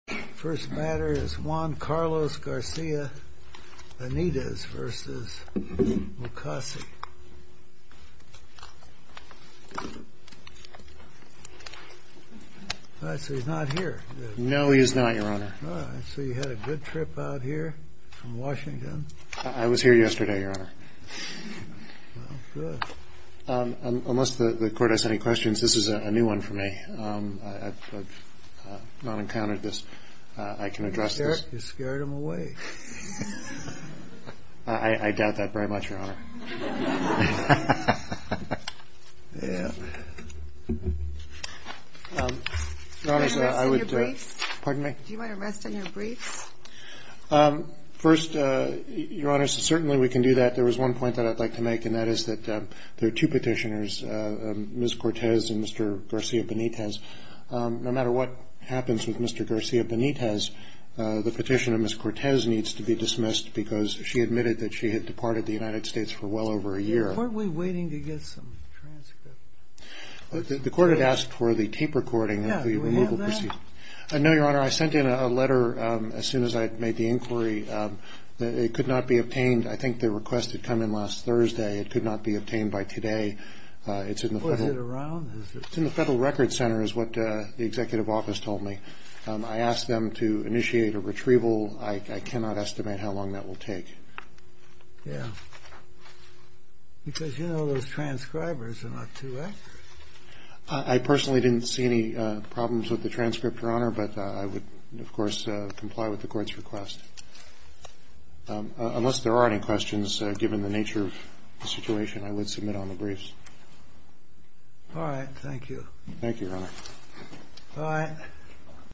First matter is Juan Carlos Garcia Benitez v. Mukasey. So he's not here? No, he is not, Your Honor. So you had a good trip out here from Washington? I was here yesterday, Your Honor. Well, good. Unless the Court has any questions, this is a new one for me. I've not encountered this. I can address this. You scared him away. I doubt that very much, Your Honor. Your Honor, I would do it. Pardon me? Do you want to rest on your briefs? First, Your Honor, certainly we can do that. There was one point that I'd like to make, and that is that there are two petitioners, Ms. Cortez and Mr. Garcia Benitez. No matter what happens with Mr. Garcia Benitez, the petition of Ms. Cortez needs to be dismissed because she admitted that she had departed the United States for well over a year. Weren't we waiting to get some transcripts? The Court had asked for the tape recording of the removal proceedings. Yeah, do we have that? No, Your Honor. I sent in a letter as soon as I had made the inquiry. It could not be obtained. I think the request had come in last Thursday. It could not be obtained by today. It's in the Federal. Or is it around? It's in the Federal Records Center is what the Executive Office told me. I asked them to initiate a retrieval. I cannot estimate how long that will take. Yeah. Because you know those transcribers are not too accurate. I personally didn't see any problems with the transcript, Your Honor, but I would, of course, comply with the Court's request. Unless there are any questions, given the nature of the situation, I would submit on the briefs. All right. Thank you. Thank you, Your Honor. Bye.